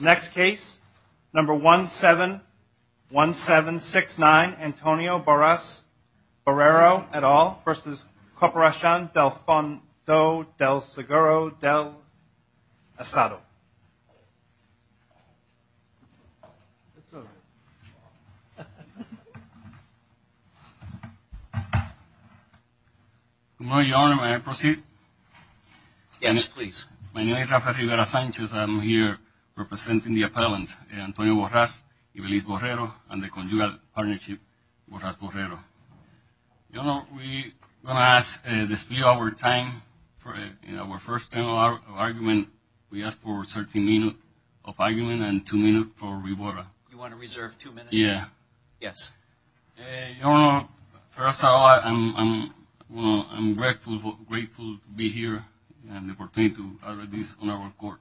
Next case, number 171769, Antonio Borras-Borrero et al. v. Corporacion del Fondo del Seguro del Estado. Good morning, Your Honor. May I proceed? Yes, please. My name is Rafael Rivera Sanchez. I'm here representing the appellant, Antonio Borras-Ibelis-Borrero, and the conjugal partnership, Borras-Borrero. Your Honor, we're going to ask to display our time for our first stint of argument. We ask for 13 minutes of argument and two minutes for rebuttal. You want to reserve two minutes? Yeah. Yes. Your Honor, first of all, I'm grateful to be here and the opportunity to address this on our court.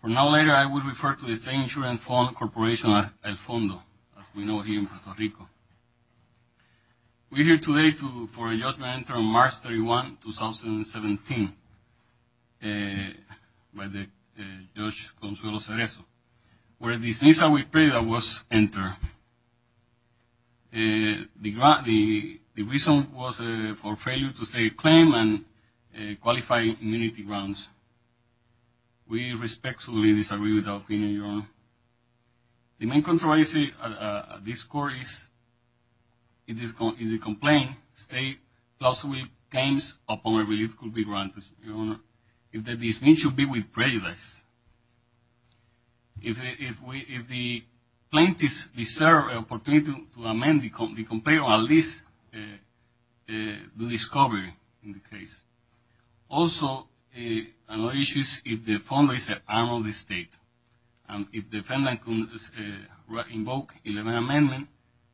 For now, later, I will refer to the State Insurance Fund Corporation, El Fondo, as we know here in Puerto Rico. We're here today for a judgment entered on March 31, 2017, by Judge Consuelo Cerezo, where the dismissal, we pray, that was entered. Your Honor, the reason was for failure to state a claim and qualify immunity grounds. We respectfully disagree with our opinion, Your Honor. The main controversy at this court is, in the complaint, state plausibly claims upon a relief could be granted, Your Honor, if the dismissal be with prejudice. If the plaintiffs deserve an opportunity to amend the complaint, or at least do discovery in the case. Also, another issue is if the Fondo is an arm of the state, and if the defendant can invoke 11 amendments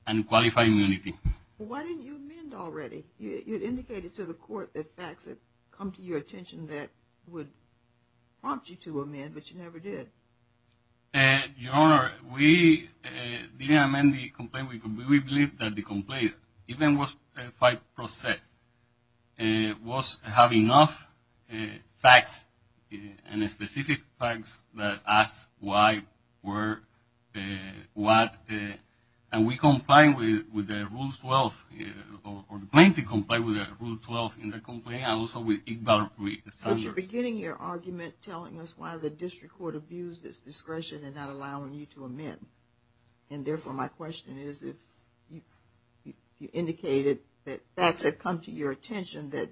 and qualify immunity. Why didn't you amend already? You had indicated to the court that facts had come to your attention that would prompt you to amend, but you never did. Your Honor, we didn't amend the complaint. We believe that the complaint, even was 5%, was having enough facts and specific facts that asked why, where, what. And we complained with the Rule 12, or the plaintiff complained with the Rule 12 in the complaint, and also with Ickbar-Reed-Sanders. But you're beginning your argument telling us why the district court abused its discretion in not allowing you to amend. And therefore, my question is, if you indicated that facts had come to your attention that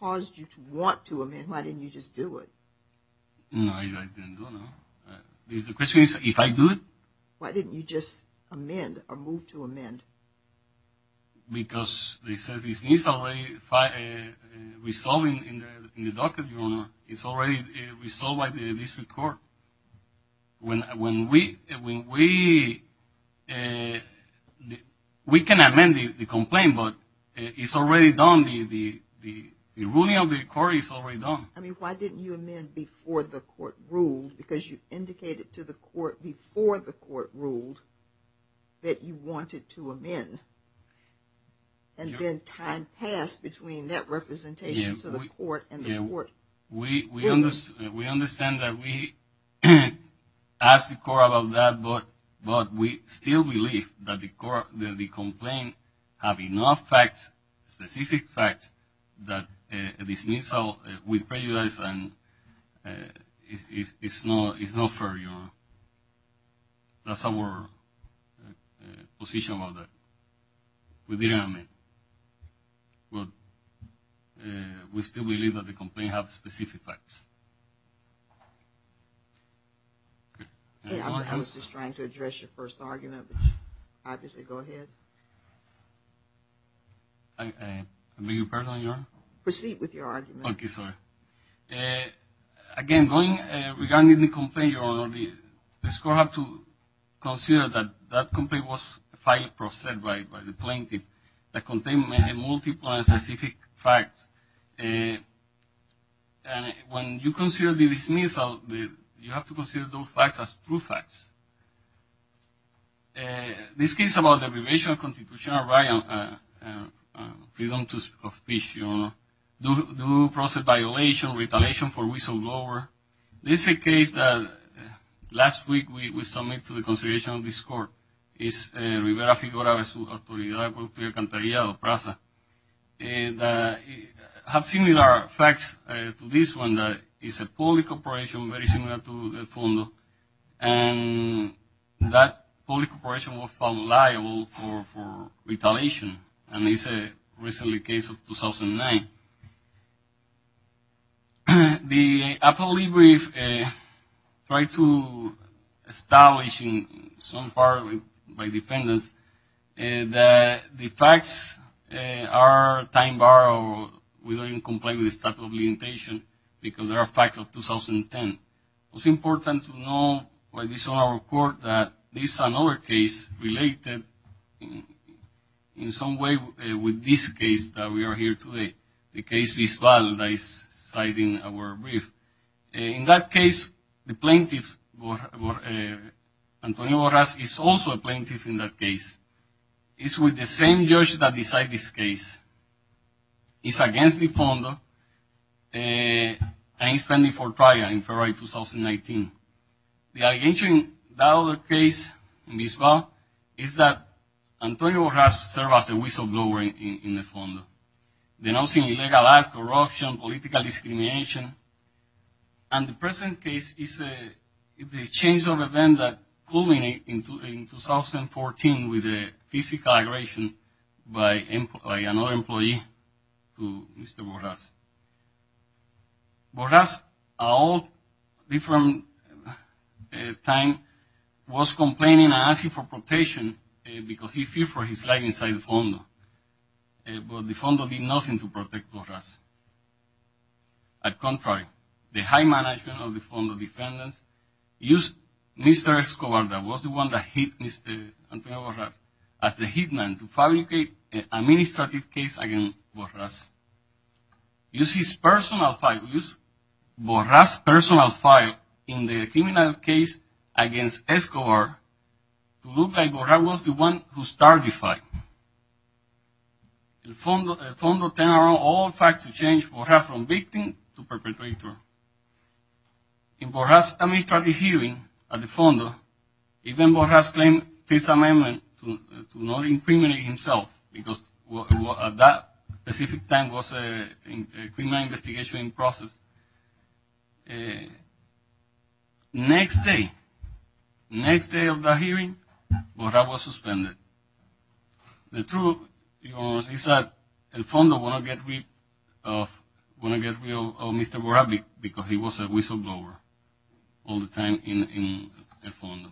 caused you to want to amend, why didn't you just do it? No, I didn't do it, no. The question is, if I do it? Why didn't you just amend, or move to amend? Because they said this needs to be resolved in the docket, Your Honor. It's already resolved by the district court. When we... We can amend the complaint, but it's already done. The ruling of the court is already done. I mean, why didn't you amend before the court ruled? Because you indicated to the court before the court ruled that you wanted to amend. And then time passed between that representation to the court and the court ruled. We understand that we asked the court about that, but we still believe that the complaint have enough facts, specific facts, that this needs to be resolved with prejudice. And it's not fair, Your Honor. That's our position on that. We didn't amend. But we still believe that the complaint have specific facts. I was just trying to address your first argument, but obviously go ahead. I beg your pardon, Your Honor? Proceed with your argument. Okay, sorry. Again, regarding the complaint, Your Honor, the court has to consider that that complaint was filed by the plaintiff that contained multiple and specific facts. When you consider the dismissal, you have to consider those facts as true facts. This case about the abrogation of constitutional right and freedom of speech, Your Honor, due process violation, retaliation for whistleblower, this is a case that last week we submitted to the consideration of this court. It's Rivera-Figueroa v. Su Autoridad Cualquier Canterillado, Praza. Have similar facts to this one. It's a public operation very similar to the FONDO, and that public operation was found liable for retaliation. And it's a recent case of 2009. The appellate brief tried to establish in some part by defendants that the facts are time-barred or we don't even comply with the statute of limitation because there are facts of 2010. It's important to know by this honor of court that this is another case related in some way with this case that we are here today, the case Bisbal that is citing our brief. In that case, the plaintiff, Antonio Borras, is also a plaintiff in that case. He's with the same judge that decided this case. It's against the FONDO, and he's pending for trial in February 2019. The allegation in that other case, Bisbal, is that Antonio Borras served as a whistleblower in the FONDO, denouncing illegal acts, corruption, political discrimination. And the present case is a change of event that culminated in 2014 with a physical aggravation by another employee to Mr. Borras. Borras, at all different times, was complaining and asking for protection because he feared for his life inside the FONDO. But the FONDO did nothing to protect Borras. At contrary, the high management of the FONDO defendants used Mr. Escobar, that was the one that hit Mr. Antonio Borras, as the hitman to fabricate an administrative case against Borras. Use his personal file, use Borras' personal file in the criminal case against Escobar to look like Borras was the one who started the fight. The FONDO turned around all facts to change Borras from victim to perpetrator. In Borras' administrative hearing at the FONDO, even Borras claimed peace amendment to not incriminate himself because at that specific time was a criminal investigation in process. Next day, next day of the hearing, Borras was suspended. The truth is that the FONDO wanted to get rid of Mr. Borras because he was a whistleblower all the time in the FONDO.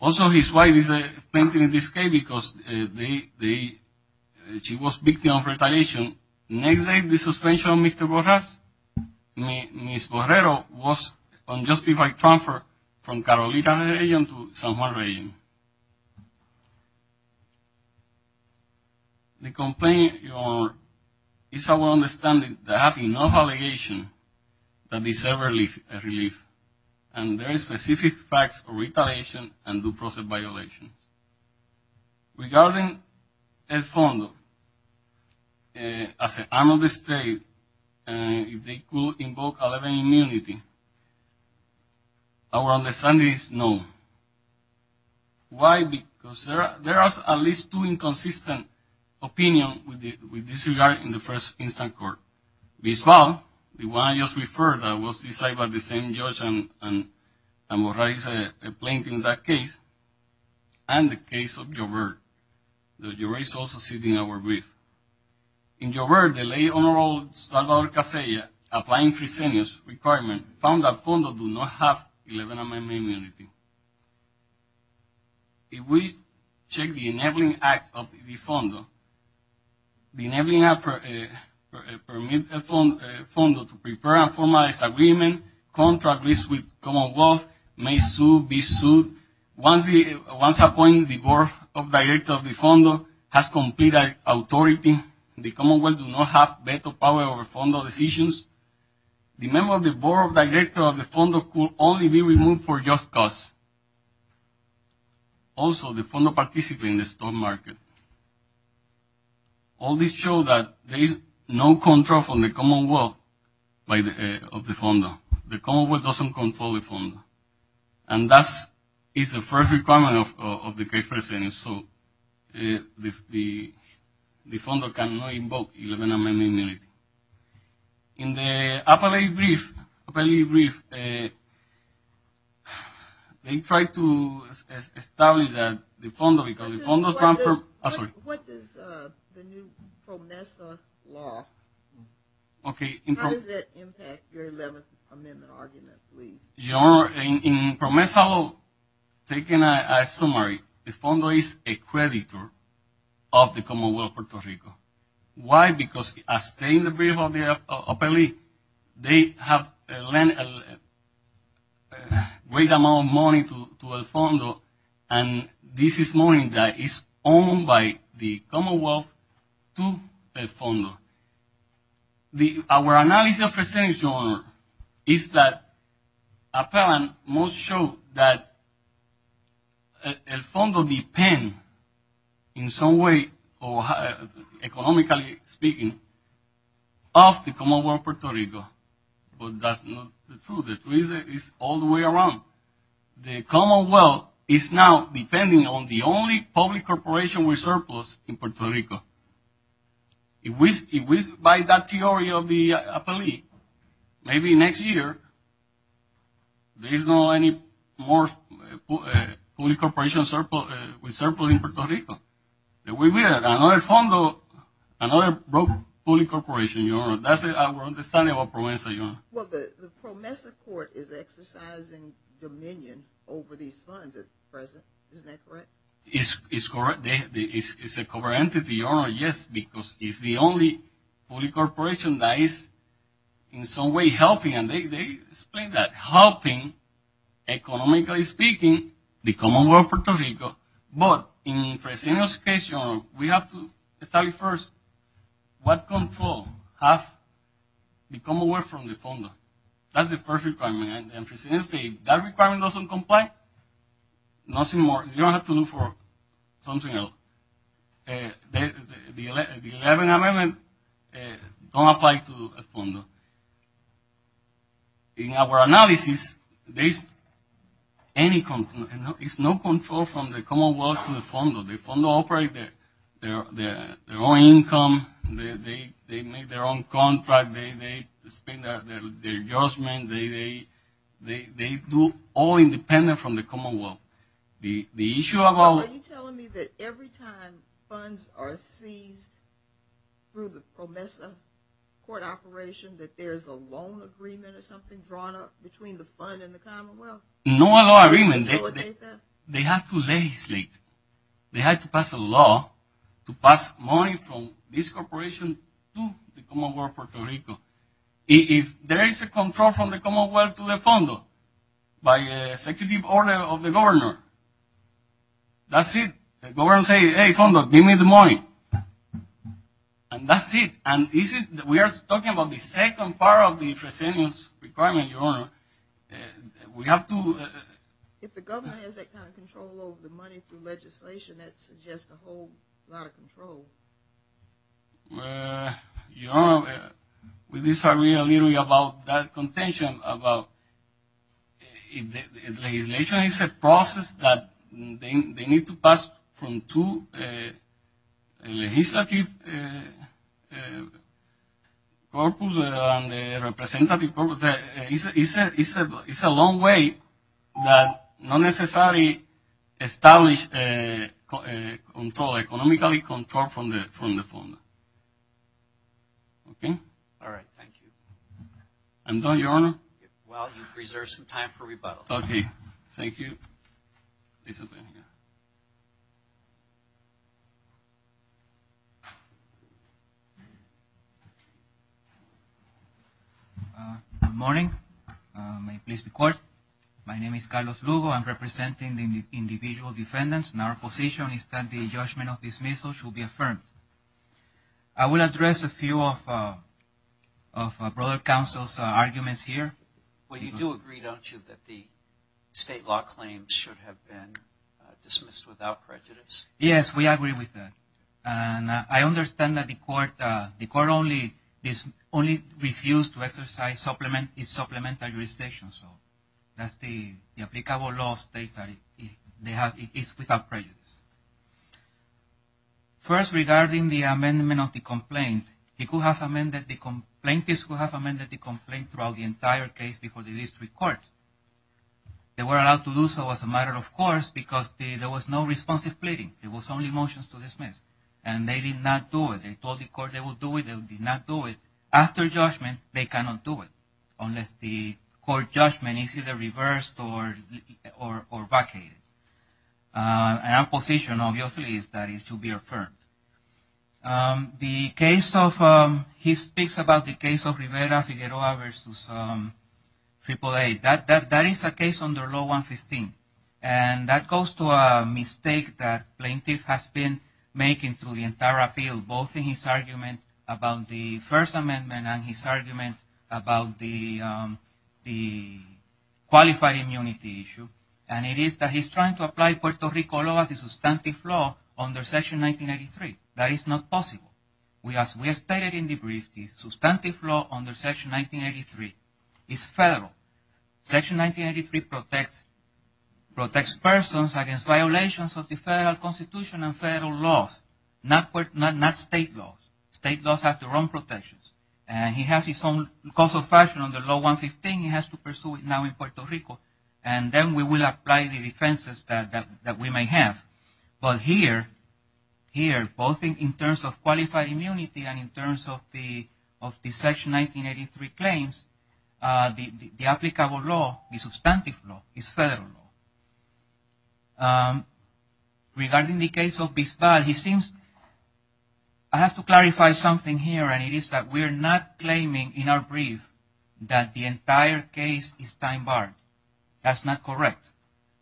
Also, his wife is a plaintiff in this case because she was a victim of retaliation. Next day, the suspension of Mr. Borras, Ms. Borrero, was unjustified transfer from Carolina region to San Juan region. The complaint is our understanding that there are enough allegations that deserve relief, and there are specific facts of retaliation and due process violations. Regarding the FONDO as an arm of the state, if they could invoke a level of immunity, our understanding is no. Why? Because there are at least two inconsistent opinions with this regard in the first instance court. Bisbal, the one I just referred, was decided by the same judge, and Borras is a plaintiff in that case, and the case of Gilbert. The jury is also sitting in our brief. In Gilbert, the late Honorable Salvador Casella, applying Frisenio's requirement, found that FONDO do not have 11 amendment immunity. If we check the Enabling Act of the FONDO, the Enabling Act permits FONDO to prepare and formalize agreement, contract with Commonwealth, may sue, be sued. Once appointed, the Board of Directors of the FONDO has complete authority. The Commonwealth does not have veto power over FONDO decisions. The member of the Board of Directors of the FONDO could only be removed for just cause. Also, the FONDO participates in the stock market. All this shows that there is no control from the Commonwealth of the FONDO. And that is the first requirement of the case proceedings. So the FONDO cannot invoke 11 amendment immunity. In the appellate brief, they tried to establish that the FONDO, because the FONDO... What does the new PRONESA law, how does that impact your 11th amendment argument, please? Your Honor, in PRONESA law, taking a summary, the FONDO is a creditor of the Commonwealth of Puerto Rico. Why? Because as stated in the brief of the appellate, they have lent a great amount of money to the FONDO. And this is money that is owned by the Commonwealth to the FONDO. Our analysis of proceedings, Your Honor, is that appellant must show that the FONDO depends, in some way, economically speaking, of the Commonwealth of Puerto Rico. But that's not true. The truth is all the way around. The Commonwealth is now depending on the only public corporation with surplus in Puerto Rico. By that theory of the appellate, maybe next year, there is no more public corporation with surplus in Puerto Rico. There will be another FONDO, another public corporation, Your Honor. That's our understanding of PRONESA, Your Honor. Well, the PRONESA court is exercising dominion over these funds at present. Isn't that correct? It's a covert entity, Your Honor, yes, because it's the only public corporation that is, in some way, helping. And they explain that helping, economically speaking, the Commonwealth of Puerto Rico. But in Fresenio's case, Your Honor, we have to study first what control has the Commonwealth from the FONDO. That's the first requirement. And Fresenio's case, that requirement doesn't comply. Nothing more. You don't have to look for something else. The 11th Amendment don't apply to FONDO. In our analysis, there is no control from the Commonwealth to the FONDO. The FONDO operates their own income. They make their own contract. They spend their adjustment. They do all independent from the Commonwealth. Are you telling me that every time funds are seized through the PRONESA court operation, that there is a loan agreement or something drawn up between the FONDO and the Commonwealth? No loan agreement. They have to legislate. They have to pass a law to pass money from this corporation to the Commonwealth of Puerto Rico. If there is a control from the Commonwealth to the FONDO by executive order of the governor, that's it. The governor says, hey, FONDO, give me the money. And that's it. And we are talking about the second part of the Fresenio's requirement, Your Honor. We have to... If the governor has that kind of control over the money through legislation, that suggests a whole lot of control. Your Honor, we disagree a little bit about that contention. Legislation is a process that they need to pass from two legislative purposes and a representative purpose. It's a long way that not necessarily establish control, economically control from the FONDO. All right. Thank you. I'm done, Your Honor. Well, you've reserved some time for rebuttal. Okay. Thank you. Good morning. May it please the Court. My name is Carlos Lugo. I'm representing the individual defendants. And our position is that the judgment of dismissal should be affirmed. I will address a few of a broader counsel's arguments here. Well, you do agree, don't you, that the state law claims should have been dismissed without prejudice? Yes, we agree with that. And I understand that the Court only refused to exercise its supplemental jurisdiction. So that's the applicable law states that it is without prejudice. First, regarding the amendment of the complaint, plaintiffs could have amended the complaint throughout the entire case before the district court. They were allowed to do so as a matter of course because there was no responsive pleading. It was only motions to dismiss. And they did not do it. They told the Court they would do it. They did not do it. After judgment, they cannot do it unless the Court judgment is either reversed or vacated. And our position, obviously, is that it should be affirmed. He speaks about the case of Rivera-Figueroa v. AAA. That is a case under Law 115. And that goes to a mistake that plaintiff has been making through the entire appeal, both in his argument about the First Amendment and his argument about the qualified immunity issue. And it is that he's trying to apply Puerto Rico law as a substantive law under Section 1983. That is not possible. As we stated in the brief, the substantive law under Section 1983 is federal. Section 1983 protects persons against violations of the federal constitution and federal laws, not state laws. State laws have their own protections. And he has his own cause of action under Law 115. He has to pursue it now in Puerto Rico. And then we will apply the defenses that we may have. But here, both in terms of qualified immunity and in terms of the Section 1983 claims, the applicable law, the substantive law, is federal law. Regarding the case of Bisbal, I have to clarify something here. And it is that we are not claiming in our brief that the entire case is time-barred. That's not correct.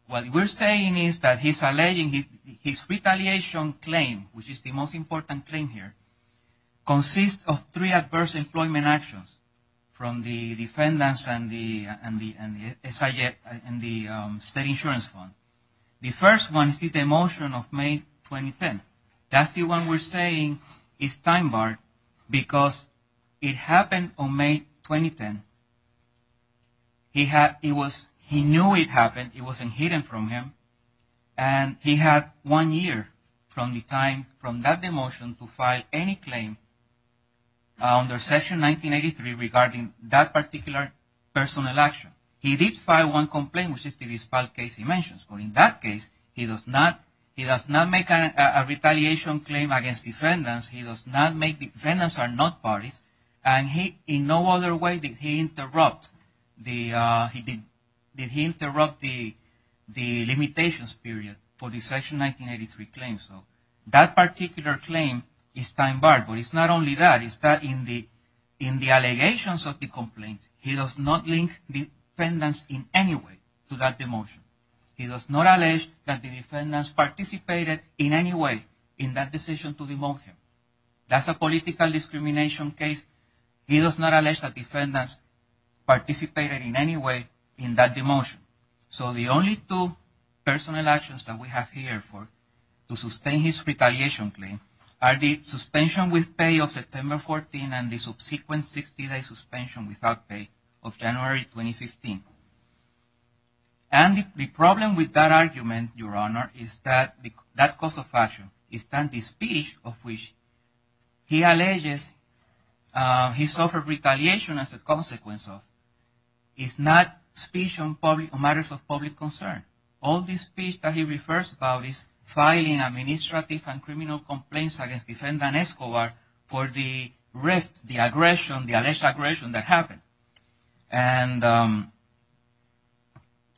What we're saying is that he's alleging his retaliation claim, which is the most important claim here, consists of three adverse employment actions from the defendants and the state insurance fund. The first one is the demotion of May 2010. That's the one we're saying is time-barred because it happened on May 2010. He knew it happened. It wasn't hidden from him. And he had one year from the time from that demotion to file any claim under Section 1983 regarding that particular personal action. He did file one complaint, which is the Bisbal case he mentions. But in that case, he does not make a retaliation claim against defendants. He does not make defendants are not parties. And in no other way did he interrupt the limitations period for the Section 1983 claims. So that particular claim is time-barred. But it's not only that. It's that in the allegations of the complaint, he does not link defendants in any way to that demotion. He does not allege that the defendants participated in any way in that decision to demote him. That's a political discrimination case. He does not allege that defendants participated in any way in that demotion. So the only two personal actions that we have here to sustain his retaliation claim are the suspension with pay of September 14 and the subsequent 60-day suspension without pay of January 2015. And the problem with that argument, Your Honor, is that that cause of action is that the speech of which he alleges he suffered retaliation as a consequence of is not speech on matters of public concern. All the speech that he refers about is filing administrative and criminal complaints against defendant Escobar for the arrest, the aggression, the alleged aggression that happened.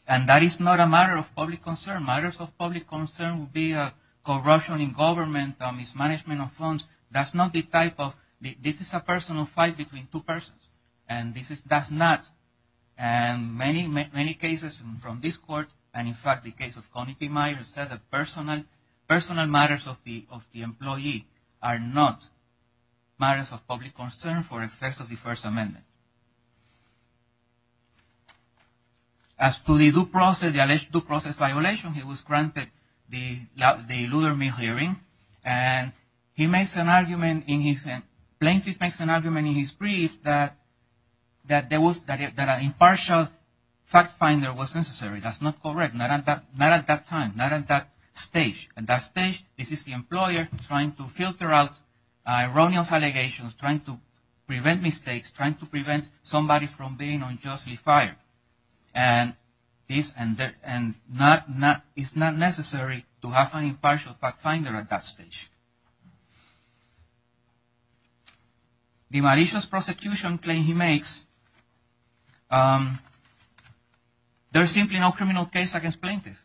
And that is not a matter of public concern. Matters of public concern would be corrosion in government, mismanagement of funds. That's not the type of... This is a personal fight between two persons. And this does not... And many, many cases from this court and, in fact, the case of Connie P. Myers said that personal matters of the employee are not matters of public concern for effects of the First Amendment. As to the due process violation, he was granted the Luther Mead hearing. And he makes an argument in his... Plaintiff makes an argument in his brief that an impartial fact finder was necessary. That's not correct. Not at that time, not at that stage. At that stage, this is the employer trying to filter out erroneous allegations, trying to prevent mistakes, trying to prevent somebody from being unjustly fired. And this is not necessary to have an impartial fact finder at that stage. The malicious prosecution claim he makes... There's simply no criminal case against plaintiff.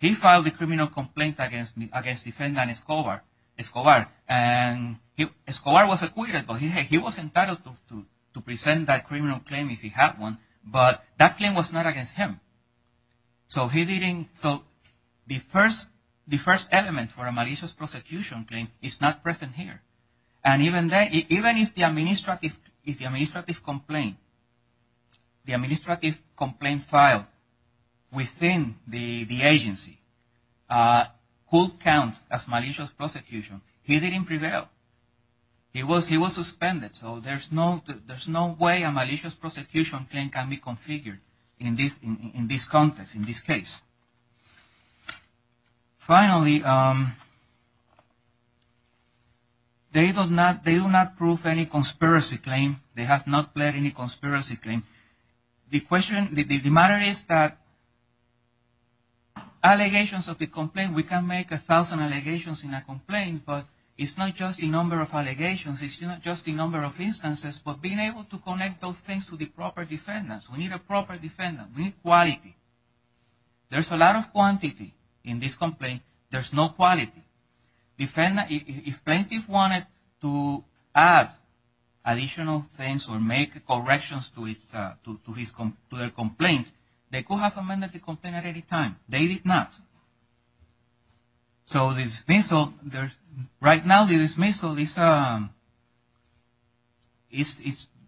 He filed a criminal complaint against Defendant Escobar. And Escobar was acquitted, but he was entitled to present that criminal claim if he had one. But that claim was not against him. So he didn't... So the First Element for a malicious prosecution claim is not present here. And even if the administrative complaint filed within the agency could count as malicious prosecution, he didn't prevail. He was suspended. So there's no way a malicious prosecution claim can be configured in this context, in this case. Finally, they do not prove any conspiracy claim. They have not pled any conspiracy claim. The question... The matter is that allegations of the complaint... We can make a thousand allegations in a complaint, but it's not just the number of allegations. It's not just the number of instances. But being able to connect those things to the proper defendants. We need a proper defendant. We need quality. There's a lot of quantity in this complaint. There's no quality. If plaintiffs wanted to add additional things or make corrections to their complaint, they could have amended the complaint at any time. They did not. So the dismissal... Right now, the dismissal is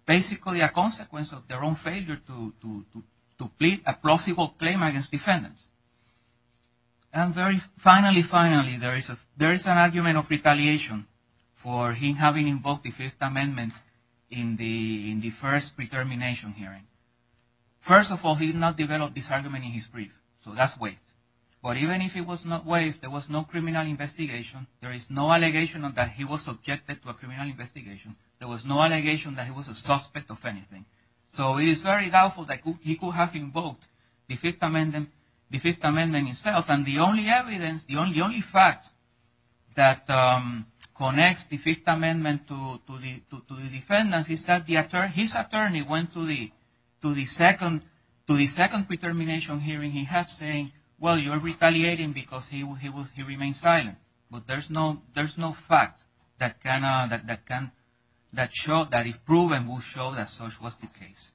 basically a consequence of their own failure to plead a plausible claim against defendants. And finally, there is an argument of retaliation for him having invoked the Fifth Amendment in the first pre-termination hearing. First of all, he did not develop this argument in his brief. So that's waived. But even if it was not waived, there was no criminal investigation. There is no allegation that he was subjected to a criminal investigation. There was no allegation that he was a suspect of anything. So it is very doubtful that he could have invoked the Fifth Amendment himself. And the only evidence, the only fact that connects the Fifth Amendment to the defendants is that his attorney went to the second pre-termination hearing he had saying, well, you're retaliating because he remained silent. But there's no fact that can show, that if proven, will show that such was the case.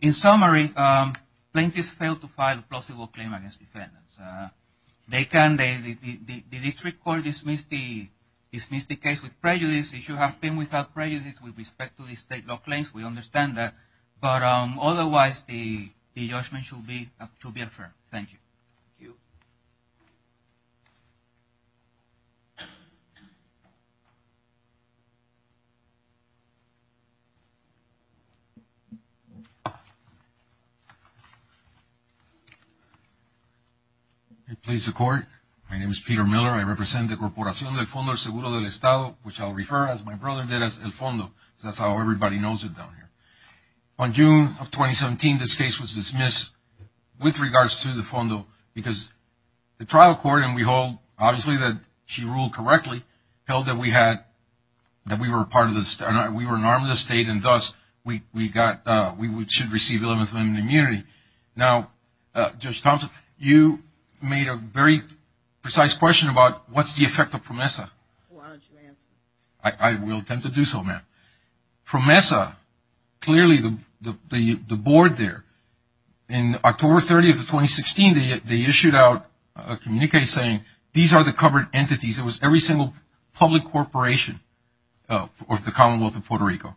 In summary, plaintiffs failed to file a plausible claim against defendants. They can. The district court dismissed the case with prejudice. It should have been without prejudice with respect to the state law claims. We understand that. But otherwise, the judgment should be fair. Thank you. Please support. My name is Peter Miller. I represent the Corporación del Fondo Seguro del Estado, which I'll refer to as my brother did, as El Fondo. That's how everybody knows it down here. On June of 2017, this case was dismissed with regards to the Fondo because the trial court, and we hold obviously that she ruled correctly, held that we had, that we were part of the, we were an arm of the state, and thus we got, we should receive the Eleventh Amendment immunity. Now, Judge Thompson, you made a very precise question about what's the effect of PROMESA. Why don't you answer? I will attempt to do so, ma'am. PROMESA, clearly the board there, in October 30th of 2016, they issued out a communique saying, these are the covered entities. It was every single public corporation of the Commonwealth of Puerto Rico.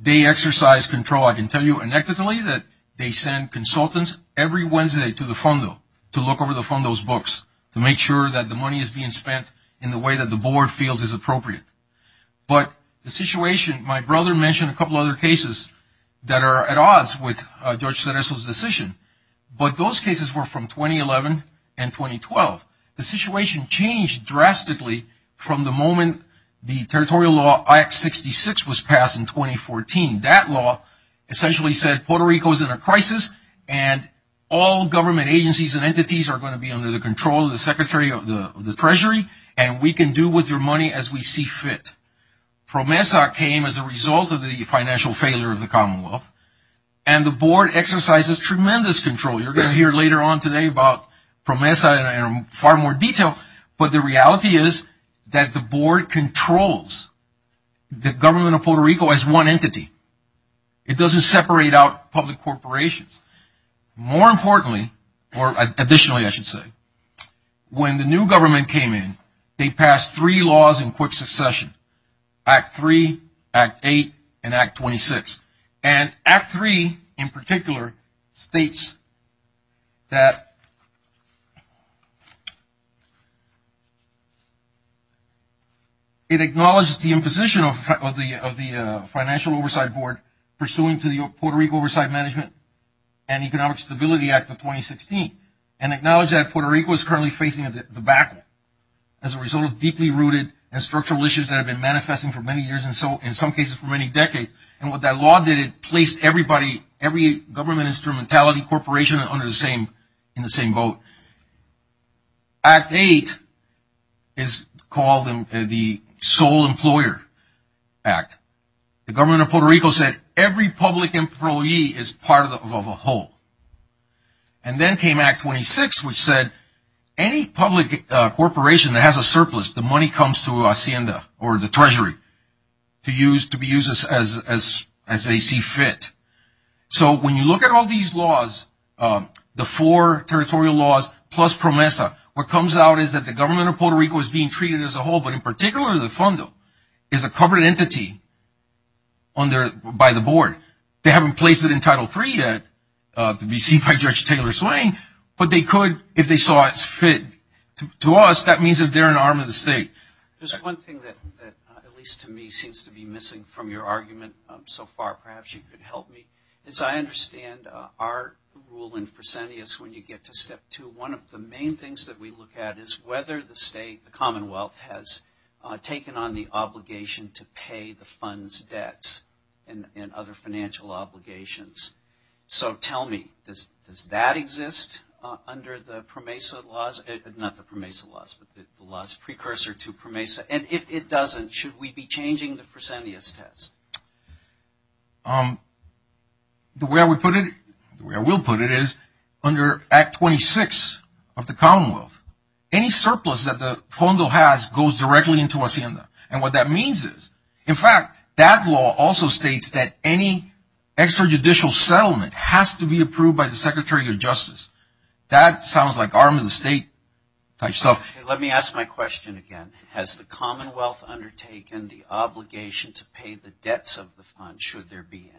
They exercise control. I can tell you anecdotally that they send consultants every Wednesday to the Fondo to look over the Fondo's books to make sure that the money is being spent in the way that the board feels is appropriate. But the situation, my brother mentioned a couple other cases that are at odds with Judge Cereso's decision, but those cases were from 2011 and 2012. The situation changed drastically from the moment the territorial law, Act 66, was passed in 2014. That law essentially said Puerto Rico is in a crisis, and all government agencies and entities are going to be under the control of the Secretary of the Treasury, and we can do with your money as we see fit. PROMESA came as a result of the financial failure of the Commonwealth, and the board exercises tremendous control. You're going to hear later on today about PROMESA in far more detail, but the reality is that the board controls the government of Puerto Rico as one entity. It doesn't separate out public corporations. More importantly, or additionally I should say, when the new government came in, they passed three laws in quick succession, Act 3, Act 8, and Act 26. And Act 3, in particular, states that it acknowledges the imposition of the Financial Oversight Board pursuant to the Puerto Rico Oversight Management and Economic Stability Act of 2016, and acknowledges that Puerto Rico is currently facing a debacle as a result of deeply rooted and structural issues that have been manifesting for many years, and in some cases for many decades. And what that law did, it placed everybody, every government instrumentality corporation in the same boat. Act 8 is called the Sole Employer Act. The government of Puerto Rico said every public employee is part of a whole. And then came Act 26, which said any public corporation that has a surplus, the money comes to Hacienda, or the treasury, to be used as they see fit. So when you look at all these laws, the four territorial laws, plus PROMESA, what comes out is that the government of Puerto Rico is being treated as a whole, but in particular the FONDO is a covered entity by the board. They haven't placed it in Title III yet to be seen by Judge Taylor Swain, but they could if they saw it fit to us. That means that they're an arm of the state. There's one thing that, at least to me, seems to be missing from your argument so far. Perhaps you could help me. As I understand our rule in Fresenius, when you get to Step 2, one of the main things that we look at is whether the state, the Commonwealth, has taken on the obligation to pay the fund's debts and other financial obligations. So tell me, does that exist under the PROMESA laws? Not the PROMESA laws, but the laws precursor to PROMESA. And if it doesn't, should we be changing the Fresenius test? The way I would put it, the way I will put it, is under Act 26 of the Commonwealth, any surplus that the FONDO has goes directly into Hacienda. And what that means is, in fact, that law also states that any extrajudicial settlement has to be approved by the Secretary of Justice. That sounds like arm of the state type stuff. Let me ask my question again. Has the Commonwealth undertaken the obligation to pay the debts of the fund, should there be any?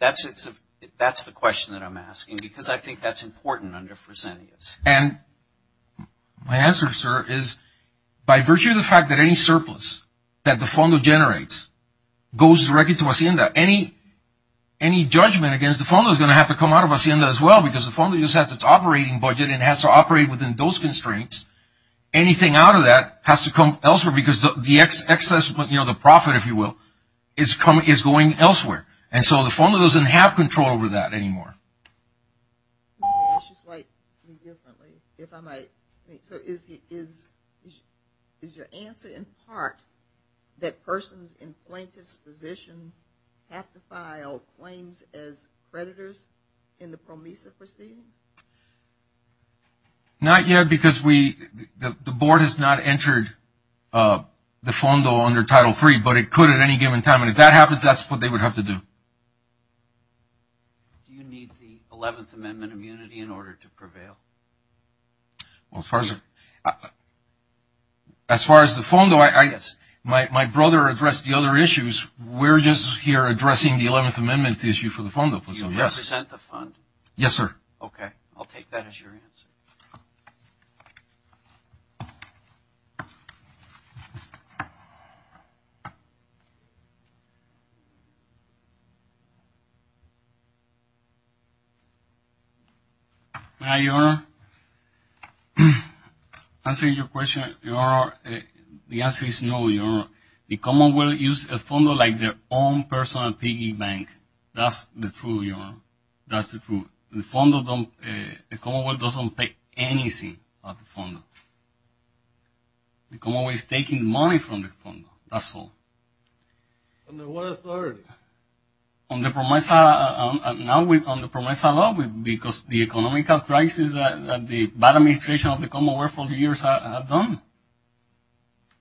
That's the question that I'm asking, because I think that's important under Fresenius. And my answer, sir, is by virtue of the fact that any surplus that the FONDO generates goes directly to Hacienda, any judgment against the FONDO is going to have to come out of Hacienda as well, because the FONDO just has its operating budget and has to operate within those constraints. Anything out of that has to come elsewhere, because the excess, you know, the profit, if you will, is going elsewhere. And so the FONDO doesn't have control over that anymore. Let me ask you slightly differently, if I might. So is your answer in part that persons in plaintiff's position have to file claims as creditors in the PROMISA proceeding? Not yet, because the board has not entered the FONDO under Title III, but it could at any given time. And if that happens, that's what they would have to do. Do you need the 11th Amendment immunity in order to prevail? Well, as far as the FONDO, my brother addressed the other issues. We're just here addressing the 11th Amendment issue for the FONDO. Do you represent the FONDO? Yes, sir. Okay, I'll take that as your answer. Hi, Your Honor. Answering your question, Your Honor, the answer is no, Your Honor. The Commonwealth uses the FONDO like their own personal piggy bank. That's the truth, Your Honor. That's the truth. The Commonwealth doesn't pay anything at the FONDO. The Commonwealth is taking money from the FONDO, that's all. Under what authority? On the PROMISA. Now we're on the PROMISA law because the economic crisis that the bad administration of the Commonwealth for years have done.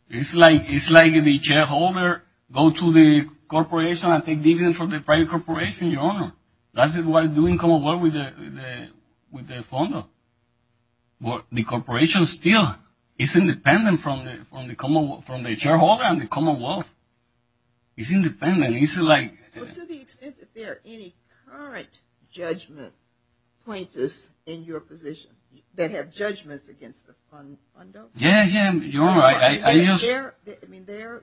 It's like the shareholder go to the corporation and take dividends from the private corporation, Your Honor. That's why they're doing Commonwealth with the FONDO. The corporation still is independent from the shareholder and the Commonwealth. It's independent. To the extent that there are any current judgment pointers in your position that have judgments against the FONDO? Yes, Your Honor.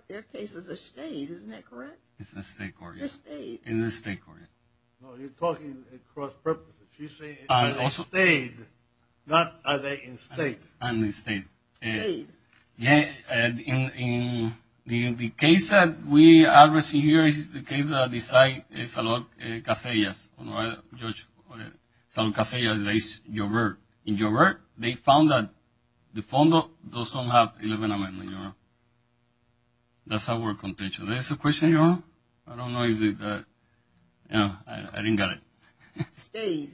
Their case is a state, isn't that correct? It's a state court, yes. It's a state. It's a state court, yes. You're talking cross-purposes. You're saying it's a state, not are they in state. They're in state. State. In the case that we are addressing here is the case that Salud Casillas, Judge Salud Casillas v. Gilbert. In Gilbert, they found that the FONDO doesn't have 11 amendments, Your Honor. That's our contention. Is that a question, Your Honor? I don't know. I didn't get it. State.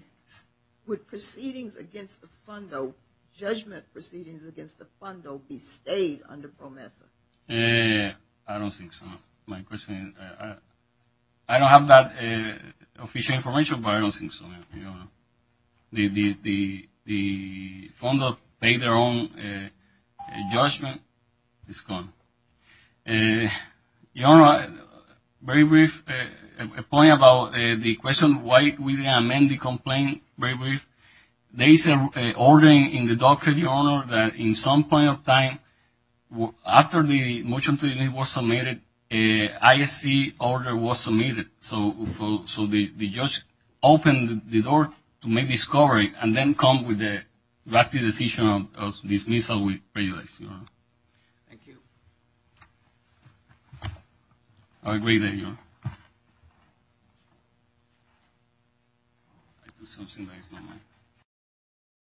Would proceedings against the FONDO, judgment proceedings against the FONDO, be state under PROMESA? I don't think so, Your Honor. My question is, I don't have that official information, but I don't think so, Your Honor. The FONDO paid their own judgment. It's gone. Your Honor, very brief, a point about the question, why we didn't amend the complaint, very brief. There is an ordering in the docket, Your Honor, that in some point of time, after the motion to the unit was submitted, a ISC order was submitted. So the judge opened the door to make discovery and then come with the drastic decision of dismissal with prejudice, Your Honor. Thank you. I agree there, Your Honor. I do something that is not mine.